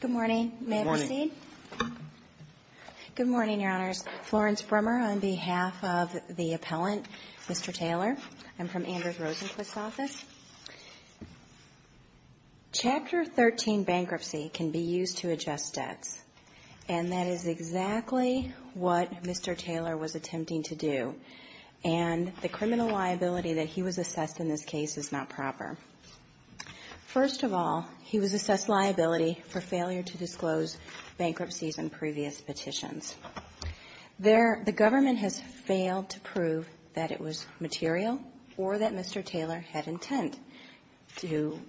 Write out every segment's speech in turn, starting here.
Good morning. May I proceed? Good morning, Your Honors. Florence Brummer on behalf of the appellant, Mr. Taylor. I'm from Andrews Rosenquist's office. Chapter 13 bankruptcy can be used to adjust debts, and that is exactly what Mr. Taylor was attempting to do. And the criminal liability that he was assessed in this case is not proper. First of all, he was assessed liability for failure to disclose bankruptcies and previous petitions. There the government has failed to prove that it was material or that Mr. Taylor had intent to do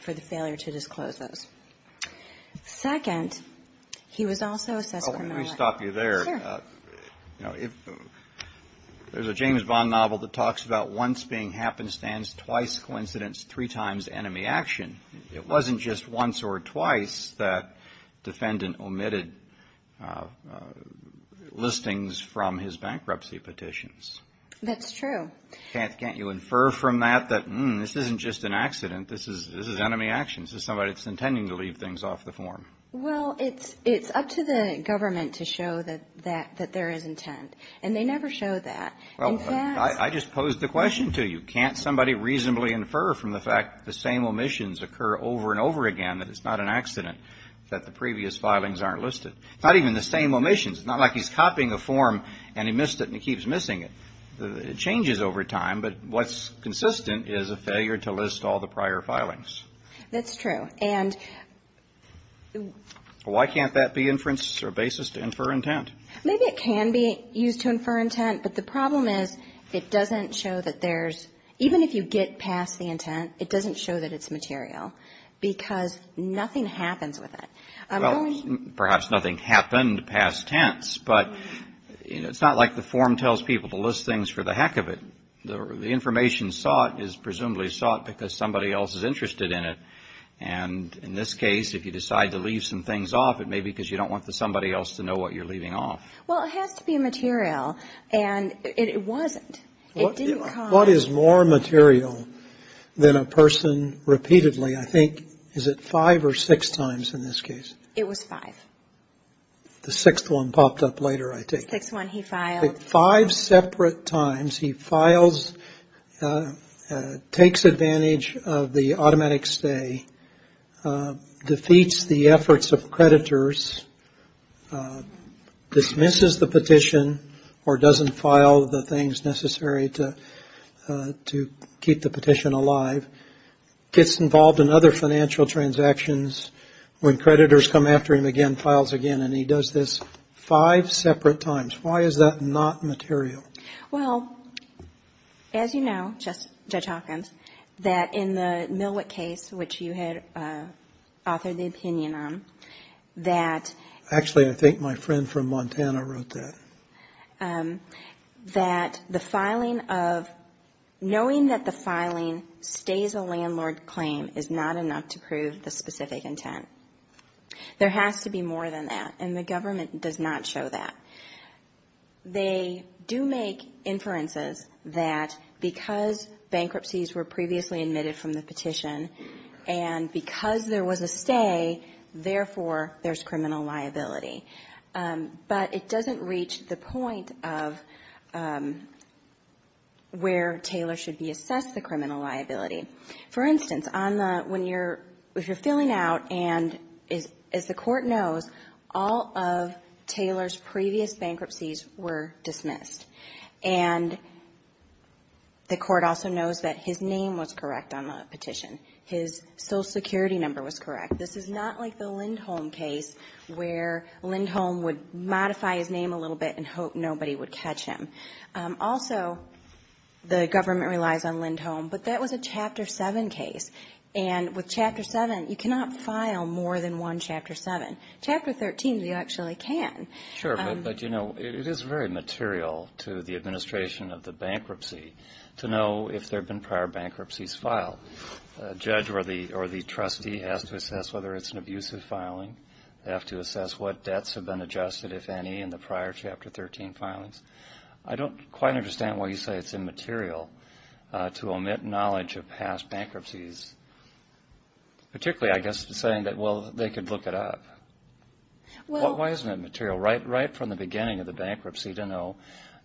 for the failure to disclose those. Second, he was also assessed criminal liability. Oh, let me stop you there. Sure. There's a James Bond novel that talks about once being happenstance, twice coincidence, three times enemy action. It wasn't just once or twice that defendant omitted listings from his bankruptcy petitions. That's true. Can't you infer from that that, hmm, this isn't just an accident. This is enemy action. This is somebody that's intending to leave things off the form. Well, it's up to the government to show that there is intent. And they never showed that. In fact — I just posed the question to you. Can't somebody reasonably infer from the fact that the same omissions occur over and over again that it's not an accident that the previous filings aren't listed? Not even the same omissions. It's not like he's copying a form and he missed it and he keeps missing it. It changes over time. But what's consistent is a failure to list all the prior filings. That's true. Why can't that be inference or basis to infer intent? Maybe it can be used to infer intent. But the problem is it doesn't show that there's — even if you get past the intent, it doesn't show that it's material because nothing happens with it. Well, perhaps nothing happened past tense. But it's not like the form tells people to list things for the heck of it. The information sought is presumably sought because somebody else is interested in it. And in this case, if you decide to leave some things off, it may be because you don't want somebody else to know what you're leaving off. Well, it has to be a material. And it wasn't. It didn't come. What is more material than a person repeatedly, I think — is it five or six times in this case? It was five. The sixth one popped up later, I take it. The sixth one he filed. Five separate times he files, takes advantage of the automatic stay, defeats the efforts of creditors, dismisses the petition or doesn't file the things necessary to keep the petition alive, gets involved in other financial transactions. When creditors come after him again, files again, and he does this five separate times. Why is that not material? Well, as you know, Judge Hawkins, that in the Millwick case, which you had authored the opinion on, that — Actually, I think my friend from Montana wrote that. — that the filing of — knowing that the filing stays a landlord claim is not enough to prove the specific intent. There has to be more than that. And the government does not show that. They do make inferences that because bankruptcies were previously admitted from the petition and because there was a stay, therefore, there's criminal liability. But it doesn't reach the point of where Taylor should be assessed the criminal liability. For instance, on the — when you're — if you're filling out and, as the court knows, all of Taylor's previous bankruptcies were dismissed. And the court also knows that his name was correct on the petition. His Social Security number was correct. This is not like the Lindholm case where Lindholm would modify his name a little bit and hope nobody would catch him. Also, the government relies on Lindholm, but that was a Chapter 7 case. And with Chapter 7, you cannot file more than one Chapter 7. Chapter 13, you actually can. Sure, but, you know, it is very material to the administration of the bankruptcy to know if there have been prior bankruptcies filed. A judge or the trustee has to assess whether it's an abusive filing. They have to assess what debts have been adjusted, if any, in the prior Chapter 13 filings. I don't quite understand why you say it's immaterial to omit knowledge of past bankruptcies, particularly, I guess, saying that, well, they could look it up. Why isn't it material right from the beginning of the bankruptcy to know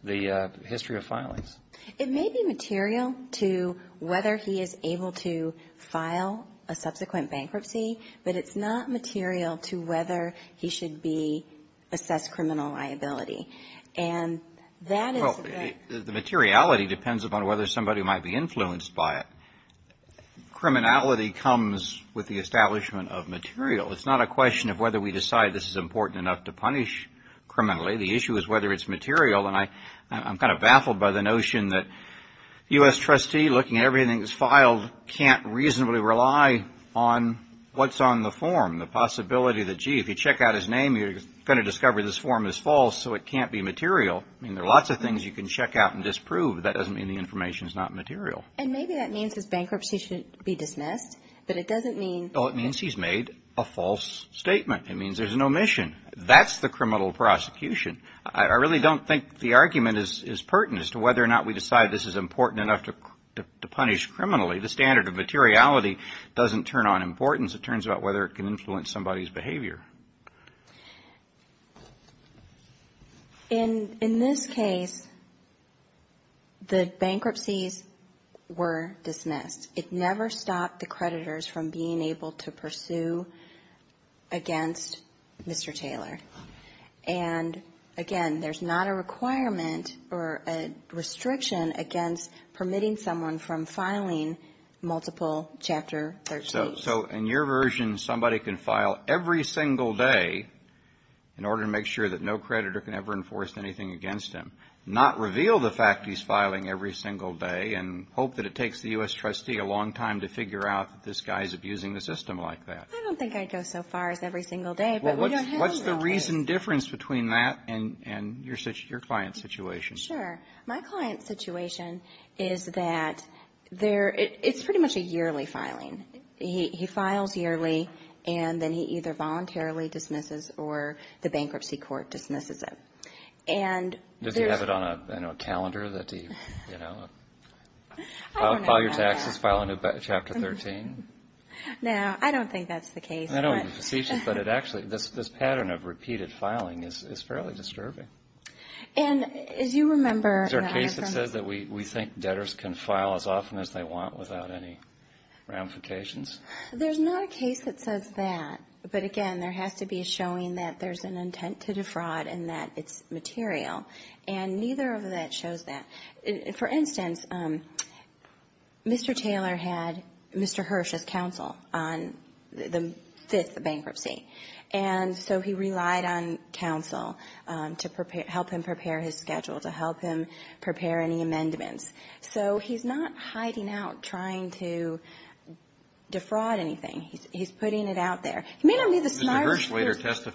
the history of filings? It may be material to whether he is able to file a subsequent bankruptcy, but it's not material to whether he should be assessed criminal liability. And that is a very... Well, the materiality depends upon whether somebody might be influenced by it. Criminality comes with the establishment of material. It's not a question of whether we decide this is important enough to punish criminally. The issue is whether it's material, and I'm kind of baffled by the notion that U.S. trustee, looking at everything that's filed, can't reasonably rely on what's on the form, the possibility that, gee, if you check out his name, you're going to discover this form is false, so it can't be material. I mean, there are lots of things you can check out and disprove. That doesn't mean the information is not material. And maybe that means his bankruptcy should be dismissed, but it doesn't mean... Well, it means he's made a false statement. It means there's an omission. That's the criminal prosecution. I really don't think the argument is pertinent as to whether or not we decide this is important enough to punish criminally. The standard of materiality doesn't turn on importance. It turns on whether it can influence somebody's behavior. In this case, the bankruptcies were dismissed. It never stopped the creditors from being able to pursue against Mr. Taylor. And, again, there's not a requirement or a restriction against permitting someone from filing multiple Chapter 13s. So in your version, somebody can file every single day in order to make sure that no creditor can ever enforce anything against him, not reveal the fact he's filing every single day and hope that it takes the U.S. trustee a long time to figure out that this guy is abusing the system like that. I don't think I'd go so far as every single day, but we don't have to. What's the reason, difference between that and your client's situation? Sure. My client's situation is that it's pretty much a yearly filing. He files yearly, and then he either voluntarily dismisses or the bankruptcy court dismisses it. Does he have it on a calendar that he, you know, file your taxes, file a new Chapter 13? No, I don't think that's the case. I don't want to be facetious, but it actually this pattern of repeated filing is fairly disturbing. And as you remember- Is there a case that says that we think debtors can file as often as they want without any ramifications? There's not a case that says that. But, again, there has to be a showing that there's an intent to defraud and that it's material. And neither of that shows that. For instance, Mr. Taylor had Mr. Hirsch's counsel on the fifth bankruptcy. And so he relied on counsel to help him prepare his schedule, to help him prepare any amendments. So he's not hiding out trying to defraud anything. He's putting it out there. He may not be the smartest person- So the fact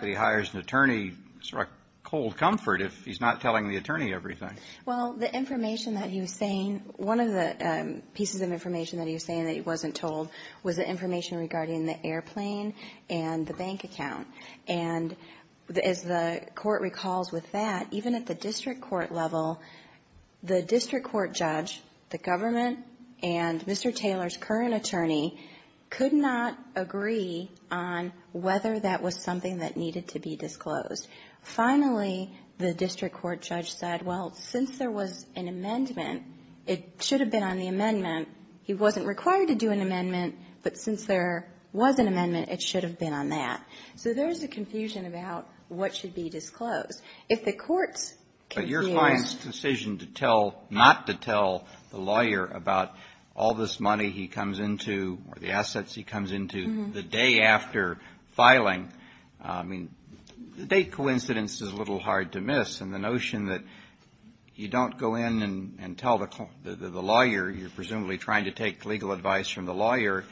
that he hires an attorney is a cold comfort if he's not telling the attorney everything. Well, the information that he was saying, one of the pieces of information that he was saying that he wasn't told was the information regarding the airplane and the bank account. And as the Court recalls with that, even at the district court level, the district court judge, the government, and Mr. Taylor's current attorney could not agree on whether that was something that needed to be disclosed. Finally, the district court judge said, well, since there was an amendment, it should have been on the amendment. He wasn't required to do an amendment, but since there was an amendment, it should have been on that. So there's a confusion about what should be disclosed. But your client's decision to tell, not to tell the lawyer about all this money he comes into or the assets he comes into the day after filing, I mean, the date coincidence is a little hard to miss. And the notion that you don't go in and tell the lawyer, you're presumably trying to take legal advice from the lawyer.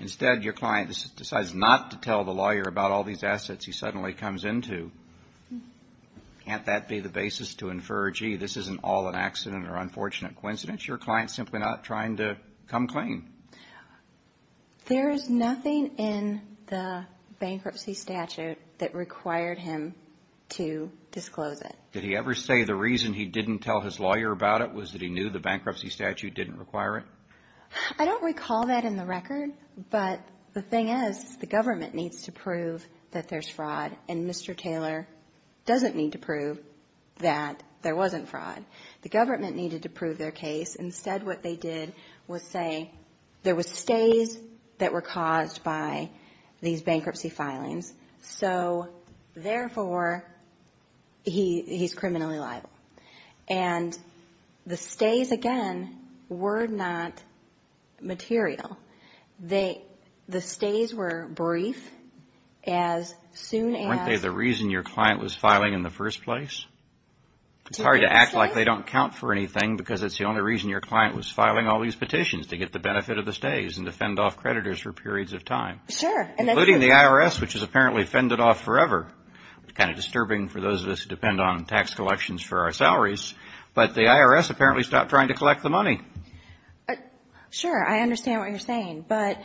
Instead, your client decides not to tell the lawyer about all these assets he suddenly comes into. Can't that be the basis to infer, gee, this isn't all an accident or unfortunate coincidence? Your client's simply not trying to come clean. There is nothing in the bankruptcy statute that required him to disclose it. Did he ever say the reason he didn't tell his lawyer about it was that he knew the bankruptcy statute didn't require it? I don't recall that in the record, but the thing is the government needs to prove that there's fraud, and Mr. Taylor doesn't need to prove that there wasn't fraud. The government needed to prove their case. Instead, what they did was say there were stays that were caused by these bankruptcy filings, so therefore he's criminally liable. And the stays, again, were not material. The stays were brief, as soon as... Weren't they the reason your client was filing in the first place? It's hard to act like they don't count for anything because it's the only reason your client was filing all these petitions, to get the benefit of the stays and to fend off creditors for periods of time. Sure. Including the IRS, which has apparently fended off forever. Kind of disturbing for those of us who depend on tax collections for our salaries, but the IRS apparently stopped trying to collect the money. Sure, I understand what you're saying, but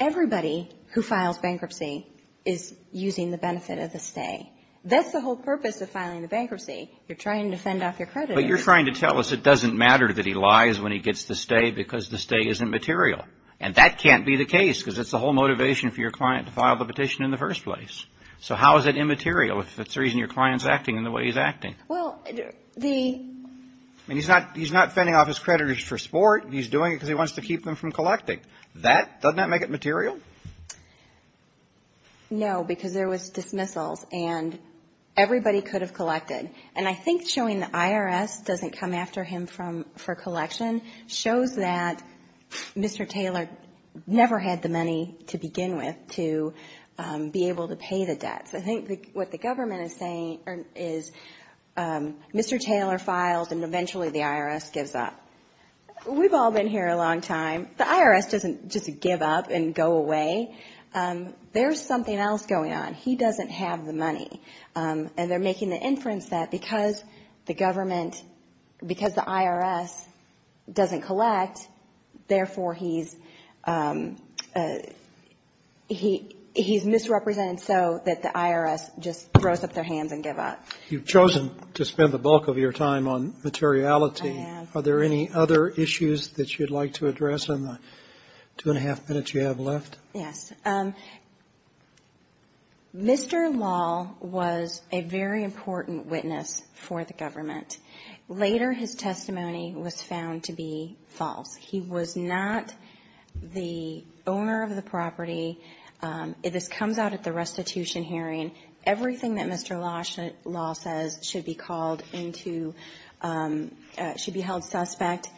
everybody who files bankruptcy is using the benefit of the stay. That's the whole purpose of filing the bankruptcy. You're trying to fend off your creditors. But you're trying to tell us it doesn't matter that he lies when he gets the stay because the stay isn't material, and that can't be the case because it's the whole motivation for your client to file the petition in the first place. So how is it immaterial if it's the reason your client's acting the way he's acting? Well, the... And he's not fending off his creditors for sport. He's doing it because he wants to keep them from collecting. That, doesn't that make it material? No, because there was dismissals, and everybody could have collected. And I think showing the IRS doesn't come after him for collection shows that Mr. Taylor never had the money to begin with to be able to pay the debts. I think what the government is saying is Mr. Taylor files and eventually the IRS gives up. We've all been here a long time. The IRS doesn't just give up and go away. There's something else going on. He doesn't have the money, and they're making the inference that because the government, because the IRS doesn't collect, therefore he's misrepresented so that the IRS just throws up their hands and give up. You've chosen to spend the bulk of your time on materiality. I have. Are there any other issues that you'd like to address in the two-and-a-half minutes you have left? Yes. Mr. Lal was a very important witness for the government. Later, his testimony was found to be false. He was not the owner of the property. This comes out at the restitution hearing. Everything that Mr. Lal says should be called into – should be held suspect,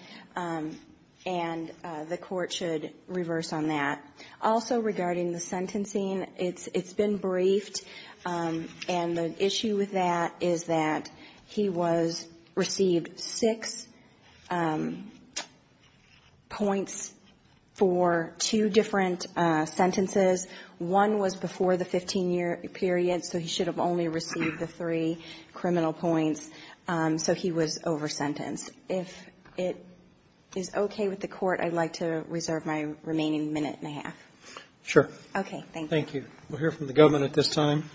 and the Court should reverse on that. Also, regarding the sentencing, it's been briefed, and the issue with that is that he was – received six points for two different sentences. One was before the 15-year period, so he should have only received the three criminal points, so he was over-sentenced. If it is okay with the Court, I'd like to reserve my remaining minute-and-a-half. Sure. Okay, thank you. Thank you. We'll hear from the government at this time.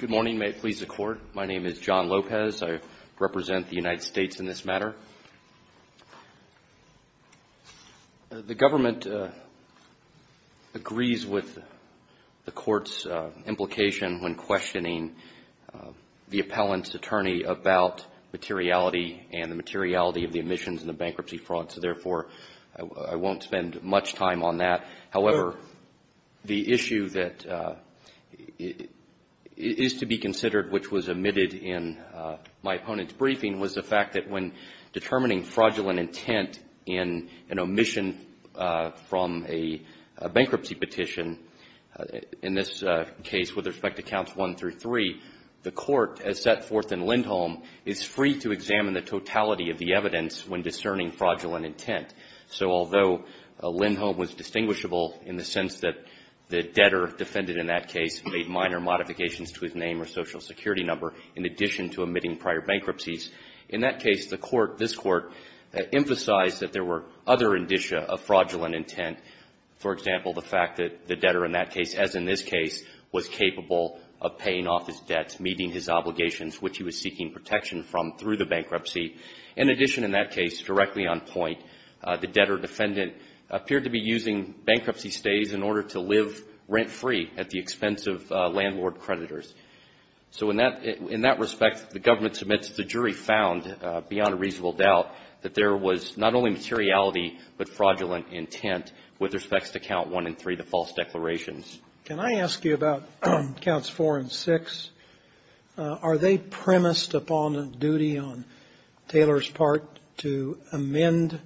Good morning. May it please the Court. My name is John Lopez. I represent the United States in this matter. The government agrees with the Court's implication when questioning the appellant's attorney about materiality and the materiality of the omissions in the bankruptcy fraud, so, therefore, I won't spend much time on that. However, the issue that is to be considered, which was omitted in my opponent's case, determining fraudulent intent in an omission from a bankruptcy petition, in this case with respect to Counts 1 through 3, the Court, as set forth in Lindholm, is free to examine the totality of the evidence when discerning fraudulent intent. So although Lindholm was distinguishable in the sense that the debtor defended in that case made minor modifications to his name or social security number in addition to omitting prior bankruptcies, in that case, the Court, this Court, emphasized that there were other indicia of fraudulent intent, for example, the fact that the debtor in that case, as in this case, was capable of paying off his debts, meeting his obligations, which he was seeking protection from through the bankruptcy. In addition, in that case, directly on point, the debtor defendant appeared to be using bankruptcy stays in order to live rent-free at the expense of landlord creditors. So in that respect, the government submits the jury found, beyond a reasonable doubt, that there was not only materiality but fraudulent intent with respect to Count 1 and 3, the false declarations. Can I ask you about Counts 4 and 6? Are they premised upon a duty on Taylor's court to amend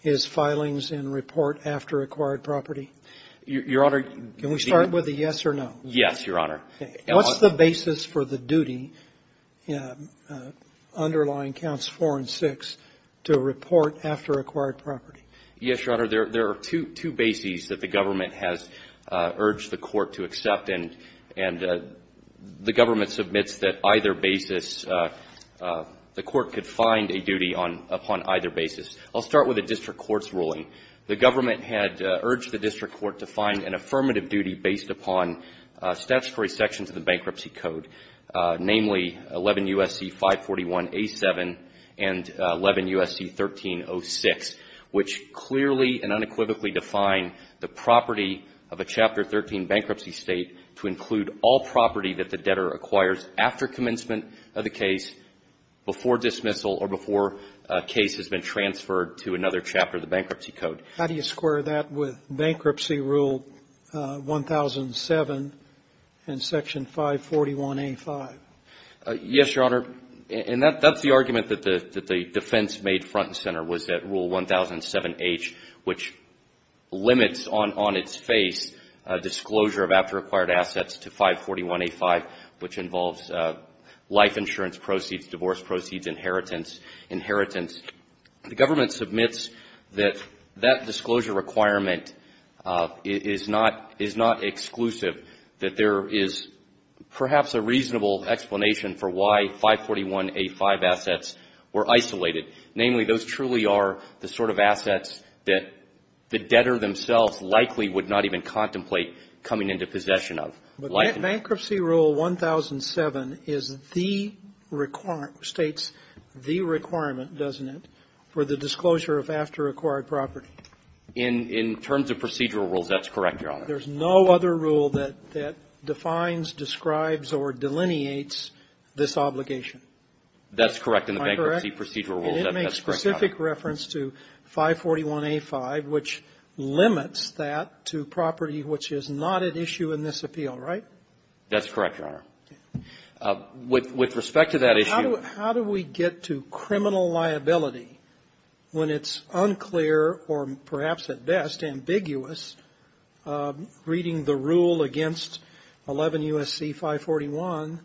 his filings and report after acquired property? Your Honor, the other question is can we start with a yes or no? Yes, Your Honor. What's the basis for the duty underlying Counts 4 and 6 to report after acquired property? Yes, Your Honor. There are two bases that the government has urged the Court to accept, and the government submits that either basis, the Court could find a duty on upon either basis. I'll start with the district court's ruling. The government had urged the district court to find an affirmative duty based upon statutory sections of the Bankruptcy Code, namely 11 U.S.C. 541a7 and 11 U.S.C. 1306, which clearly and unequivocally define the property of a Chapter 13 bankruptcy state to include all property that the state acquires after commencement of the case, before dismissal, or before a case has been transferred to another chapter of the Bankruptcy Code. How do you square that with Bankruptcy Rule 1007 and Section 541a5? Yes, Your Honor. And that's the argument that the defense made front and center was that Rule 1007h, which limits on its face disclosure of after-acquired assets to 541a5, which involves life insurance proceeds, divorce proceeds, inheritance, inheritance, the government submits that that disclosure requirement is not exclusive, that there is perhaps a reasonable explanation for why 541a5 assets were isolated. Namely, those truly are the sort of assets that the debtor themselves likely would not even contemplate coming into possession of. But Bankruptcy Rule 1007 is the requirement, states the requirement, doesn't it, for the disclosure of after-acquired property? In terms of procedural rules, that's correct, Your Honor. There's no other rule that defines, describes, or delineates this obligation. That's correct in the Bankruptcy Procedural Rules. Am I correct? That's correct, Your Honor. It makes specific reference to 541a5, which limits that to property which is not an issue in this appeal, right? That's correct, Your Honor. With respect to that issue ---- How do we get to criminal liability when it's unclear or perhaps at best ambiguous reading the rule against 11 U.S.C. 541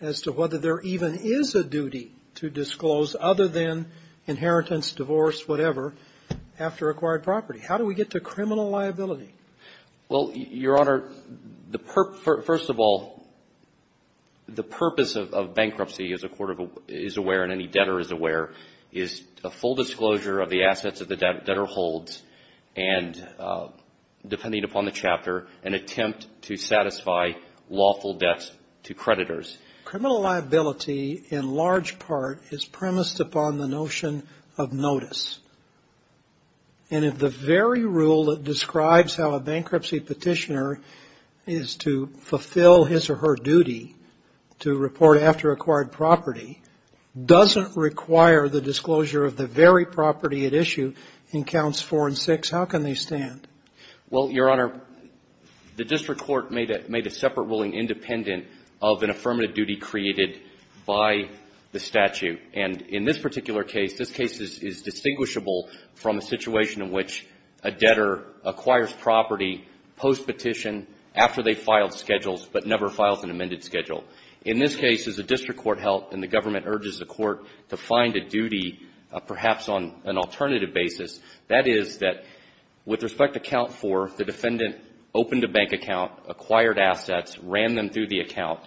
as to whether there even is a duty to disclose other than inheritance, divorce, whatever, after-acquired property? How do we get to criminal liability? Well, Your Honor, the purpose of bankruptcy, as a court is aware and any debtor is aware, is a full disclosure of the assets that the debtor holds and, depending upon the chapter, an attempt to satisfy lawful debts to creditors. Criminal liability, in large part, is premised upon the notion of notice. And if the very rule that describes how a bankruptcy petitioner is to fulfill his or her duty to report after-acquired property doesn't require the disclosure of the very property at issue in Counts 4 and 6, how can they stand? Well, Your Honor, the district court made a separate ruling independent of an affirmative duty created by the statute. And in this particular case, this case is distinguishable from a situation in which a debtor acquires property postpetition after they filed schedules, but never files an amended schedule. In this case, as the district court held and the government urges the court to find a duty, perhaps on an alternative basis, that is that with respect to Count 4, the defendant opened a bank account, acquired assets, ran them through the account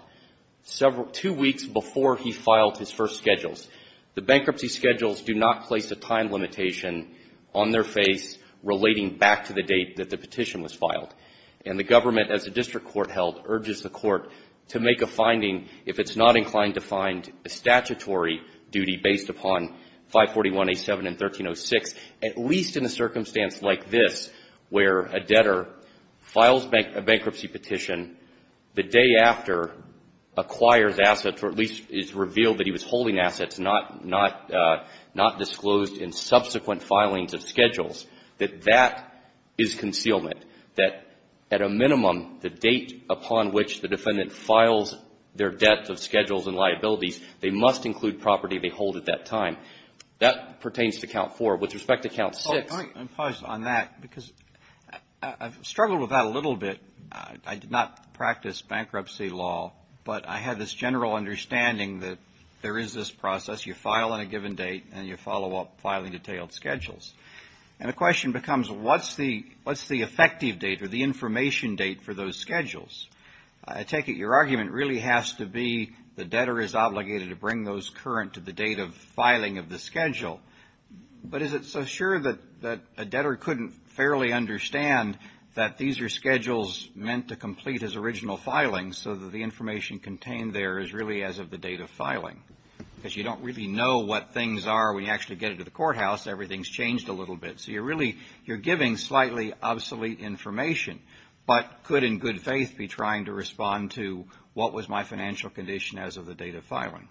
two weeks before he filed his first schedules. The bankruptcy schedules do not place a time limitation on their face relating back to the date that the petition was filed. And the government, as the district court held, urges the court to make a finding if it's not inclined to find a statutory duty based upon 541A7 and 1306, at least in a circumstance like this where a debtor files a bankruptcy petition the day after acquires assets, or at least it's revealed that he was holding assets, not disclosed in subsequent filings of schedules, that that is concealment, that at a minimum, the date upon which the defendant files their debt of schedules and liabilities, they must include property they hold at that time. That pertains to Count 4. With respect to Count 6 — Well, let me impose on that, because I've struggled with that a little bit. I did not practice bankruptcy law, but I had this general understanding that there is this process. You file on a given date, and you follow up filing detailed schedules. And the question becomes, what's the effective date or the information date for those schedules? I take it your argument really has to be the debtor is obligated to bring those current to the date of filing of the schedule. But is it so sure that a debtor couldn't fairly understand that these are schedules meant to complete his original filing so that the information contained there is really as of the date of filing? Because you don't really know what things are when you actually get into the courthouse. Everything's changed a little bit. So you're really — you're giving slightly obsolete information, but could in good faith be trying to respond to, what was my financial condition as of the date of filing?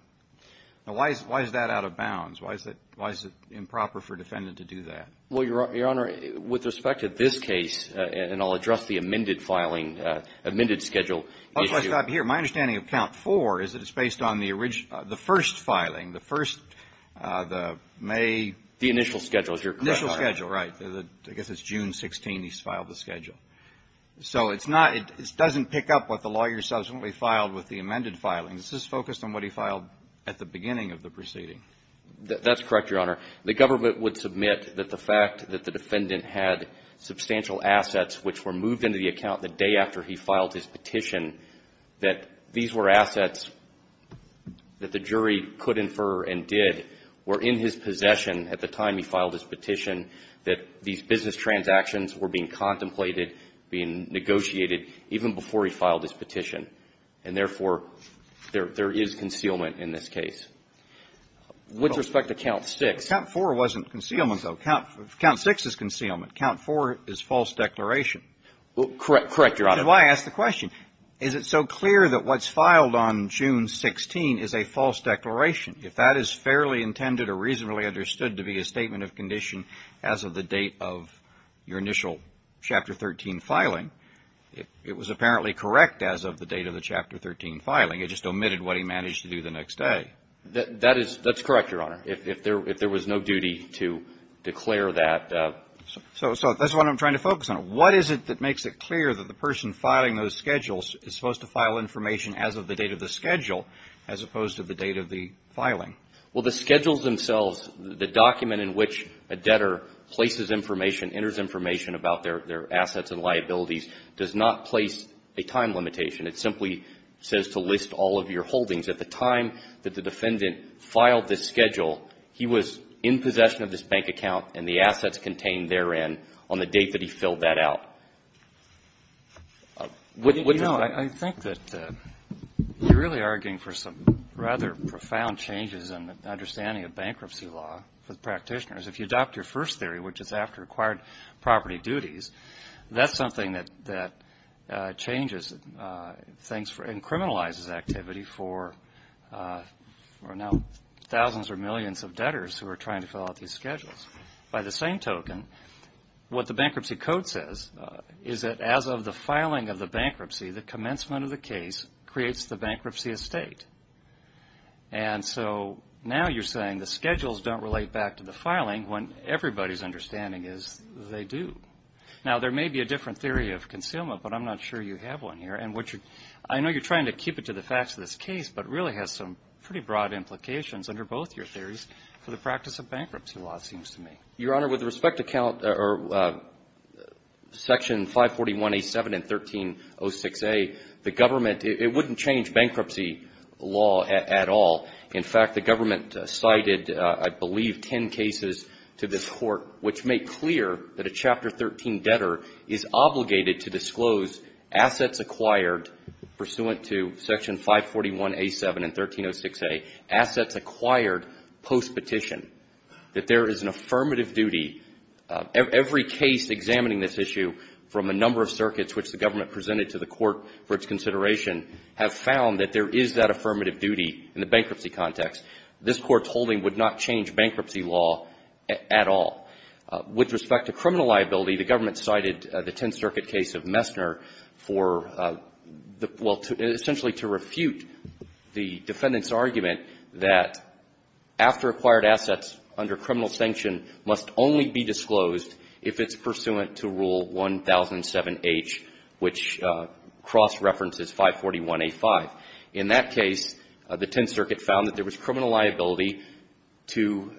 Now, why is that out of bounds? Why is it improper for a defendant to do that? Well, Your Honor, with respect to this case, and I'll address the amended filing, amended schedule issue. I'll just stop here. My understanding of Count 4 is that it's based on the first filing, the first, the May — The initial schedule, is your correct? The initial schedule, right. I guess it's June 16 he's filed the schedule. So it's not — it doesn't pick up what the lawyer subsequently filed with the amended filing. This is focused on what he filed at the beginning of the proceeding. That's correct, Your Honor. The government would submit that the fact that the defendant had substantial assets which were moved into the account the day after he filed his petition, that these were assets that the jury could infer and did, were in his possession at the time he filed his petition, that these business transactions were being contemplated, being negotiated, even before he filed his petition. And therefore, there is concealment in this case. With respect to Count 6 — Count 4 wasn't concealment, though. Count 6 is concealment. Count 4 is false declaration. Correct. Correct, Your Honor. That's why I asked the question. Is it so clear that what's filed on June 16 is a false declaration? If that is fairly intended or reasonably understood to be a statement of condition as of the date of your initial Chapter 13 filing, it was apparently correct as of the date of the Chapter 13 filing. It just omitted what he managed to do the next day. That is — that's correct, Your Honor, if there was no duty to declare that. So that's what I'm trying to focus on. What is it that makes it clear that the person filing those schedules is supposed to file information as of the date of the schedule as opposed to the date of the filing? Well, the schedules themselves, the document in which a debtor places information, enters information about their assets and liabilities, does not place a time limitation. It simply says to list all of your holdings. At the time that the defendant filed this schedule, he was in possession of this bank account and the assets contained therein on the date that he filled that out. You know, I think that you're really arguing for some rather profound changes in understanding of bankruptcy law for the practitioners. If you adopt your first theory, which is after acquired property duties, that's thanks for — and criminalizes activity for now thousands or millions of debtors who are trying to fill out these schedules. By the same token, what the Bankruptcy Code says is that as of the filing of the bankruptcy, the commencement of the case creates the bankruptcy estate. And so now you're saying the schedules don't relate back to the filing when everybody's understanding is they do. Now, there may be a different theory of concealment, but I'm not sure you have one here. And I know you're trying to keep it to the facts of this case, but it really has some pretty broad implications under both your theories for the practice of bankruptcy law, it seems to me. Your Honor, with respect to section 541A7 and 1306A, the government — it wouldn't change bankruptcy law at all. In fact, the government cited, I believe, ten cases to this Court which make clear that a Chapter 13 debtor is obligated to disclose assets acquired pursuant to section 541A7 and 1306A, assets acquired postpetition, that there is an affirmative duty — every case examining this issue from a number of circuits which the government presented to the Court for its consideration have found that there is that affirmative duty in the bankruptcy context. This Court's holding would not change bankruptcy law at all. With respect to criminal liability, the government cited the Tenth Circuit case of Messner for the — well, essentially to refute the defendant's argument that after acquired assets under criminal sanction must only be disclosed if it's pursuant to Rule 1007H, which cross-references 541A5. In that case, the Tenth Circuit found that there was criminal liability to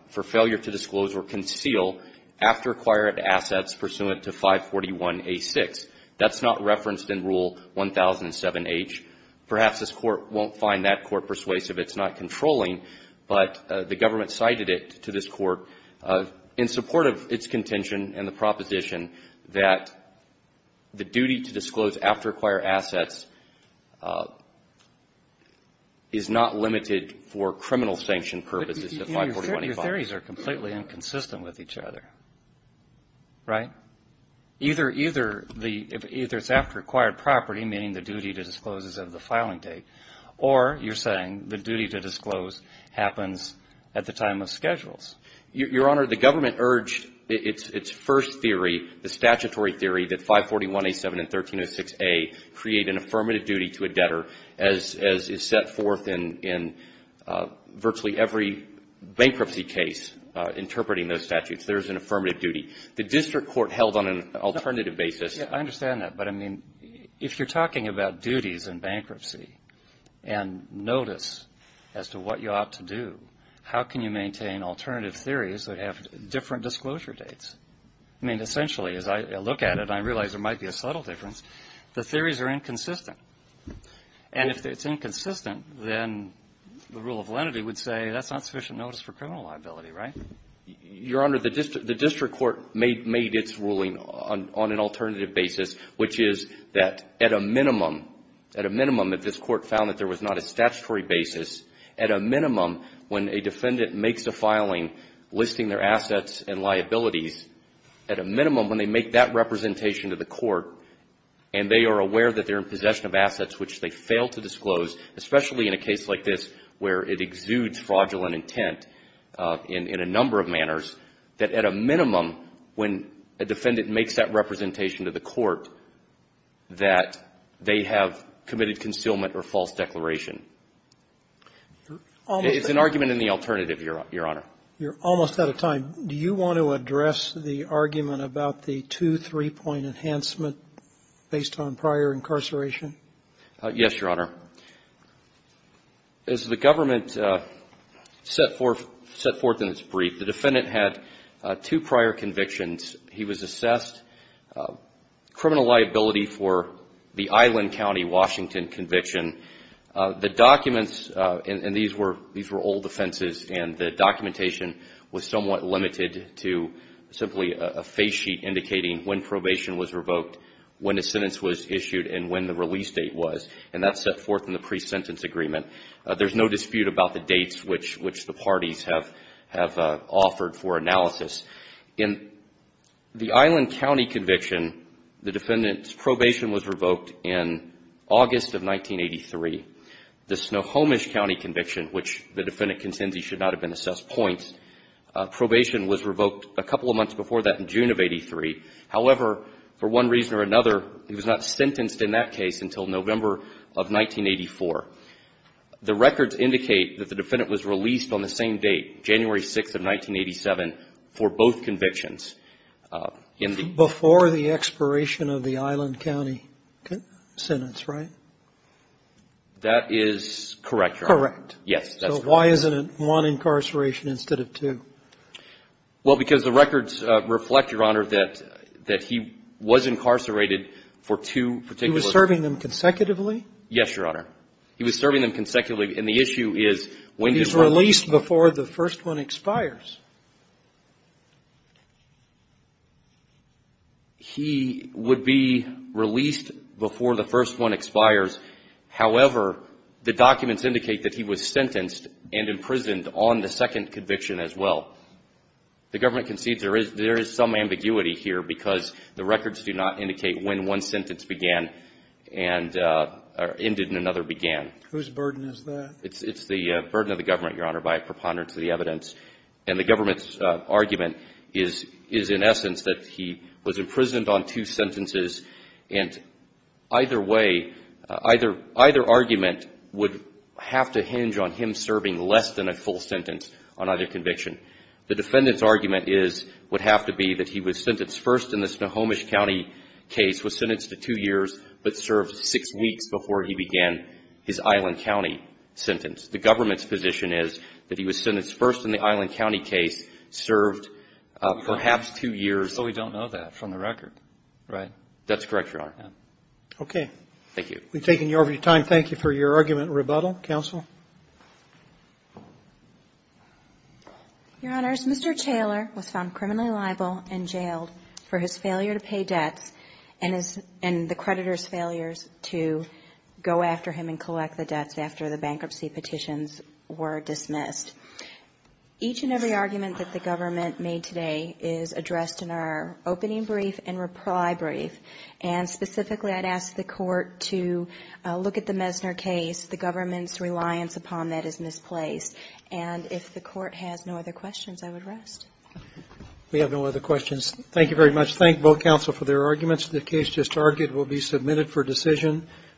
— for failure to disclose or conceal assets pursuant to 541A6. That's not referenced in Rule 1007H. Perhaps this Court won't find that Court persuasive. It's not controlling. But the government cited it to this Court in support of its contention and the proposition that the duty to disclose after acquired assets is not limited for criminal sanction purposes to 541A5. Your theories are completely inconsistent with each other, right? Either it's after acquired property, meaning the duty to disclose is of the filing date, or you're saying the duty to disclose happens at the time of schedules. Your Honor, the government urged its first theory, the statutory theory that 541A7 and 1306A create an affirmative duty to a debtor as is set forth in virtually every bankruptcy case interpreting those statutes. There is an affirmative duty. The district court held on an alternative basis. Yeah. I understand that. But, I mean, if you're talking about duties in bankruptcy and notice as to what you ought to do, how can you maintain alternative theories that have different disclosure dates? I mean, essentially, as I look at it, I realize there might be a subtle difference. The theories are inconsistent. And if it's inconsistent, then the rule of lenity would say that's not sufficient notice for criminal liability, right? Your Honor, the district court made its ruling on an alternative basis, which is that at a minimum, at a minimum, if this Court found that there was not a statutory basis, at a minimum, when a defendant makes a filing listing their assets and liabilities, at a minimum, when they make that representation to the Court and they are aware that they're in possession of assets which they fail to disclose, especially in a case like this where it exudes fraudulent intent in a number of manners, that at a minimum, when a defendant makes that representation to the Court, that they have committed concealment or false declaration. It's an argument in the alternative, Your Honor. You're almost out of time. Do you want to address the argument about the two, three-point enhancement based on prior incarceration? Yes, Your Honor. As the government set forth in its brief, the defendant had two prior convictions. He was assessed criminal liability for the Island County, Washington conviction. The documents, and these were old offenses, and the documentation was somewhat limited to simply a phase sheet indicating when probation was revoked, when a sentence was issued, and when the release date was. And that's set forth in the pre-sentence agreement. There's no dispute about the dates which the parties have offered for analysis. In the Island County conviction, the defendant's probation was revoked in August of 1983. The Snohomish County conviction, which the defendant contends he should not have been assessed points, probation was revoked a couple of weeks later. In the Snohomish County conviction, the defendant's probation was revoked in November of 1984. The records indicate that the defendant was released on the same date, January 6th of 1987, for both convictions. Before the expiration of the Island County sentence, right? That is correct, Your Honor. Correct. Yes, that's correct. So why isn't it one incarceration instead of two? Well, because the records reflect, Your Honor, that he was incarcerated for two particular He was serving them consecutively? Yes, Your Honor. He was serving them consecutively, and the issue is when he was released before the first one expires. He would be released before the first one expires. However, the documents indicate that he was sentenced and imprisoned on the second conviction as well. The government concedes there is some ambiguity here because the records do not indicate when one sentence began and ended and another began. Whose burden is that? It's the burden of the government, Your Honor, by preponderance of the evidence. And the government's argument is in essence that he was imprisoned on two sentences, and either way, either argument would have to hinge on him serving less than a full sentence on either conviction. The defendant's argument is, would have to be that he was sentenced first in the Snohomish County case, was sentenced to two years, but served six weeks before he began his Island County sentence. The government's position is that he was sentenced first in the Island County case, served perhaps two years. So we don't know that from the record, right? That's correct, Your Honor. Okay. Thank you. We've taken you over your time. Thank you for your argument and rebuttal. Counsel? Your Honors, Mr. Taylor was found criminally liable and jailed for his failure to pay debts and the creditor's failures to go after him and collect the debts after the bankruptcy petitions were dismissed. Each and every argument that the government made today is addressed in our opening brief and reply brief. And specifically, I'd ask the court to look at the Messner case. The government's reliance upon that is misplaced. And if the court has no other questions, I would rest. We have no other questions. Thank you very much. Thank both counsel for their arguments. The case just argued will be submitted for decision.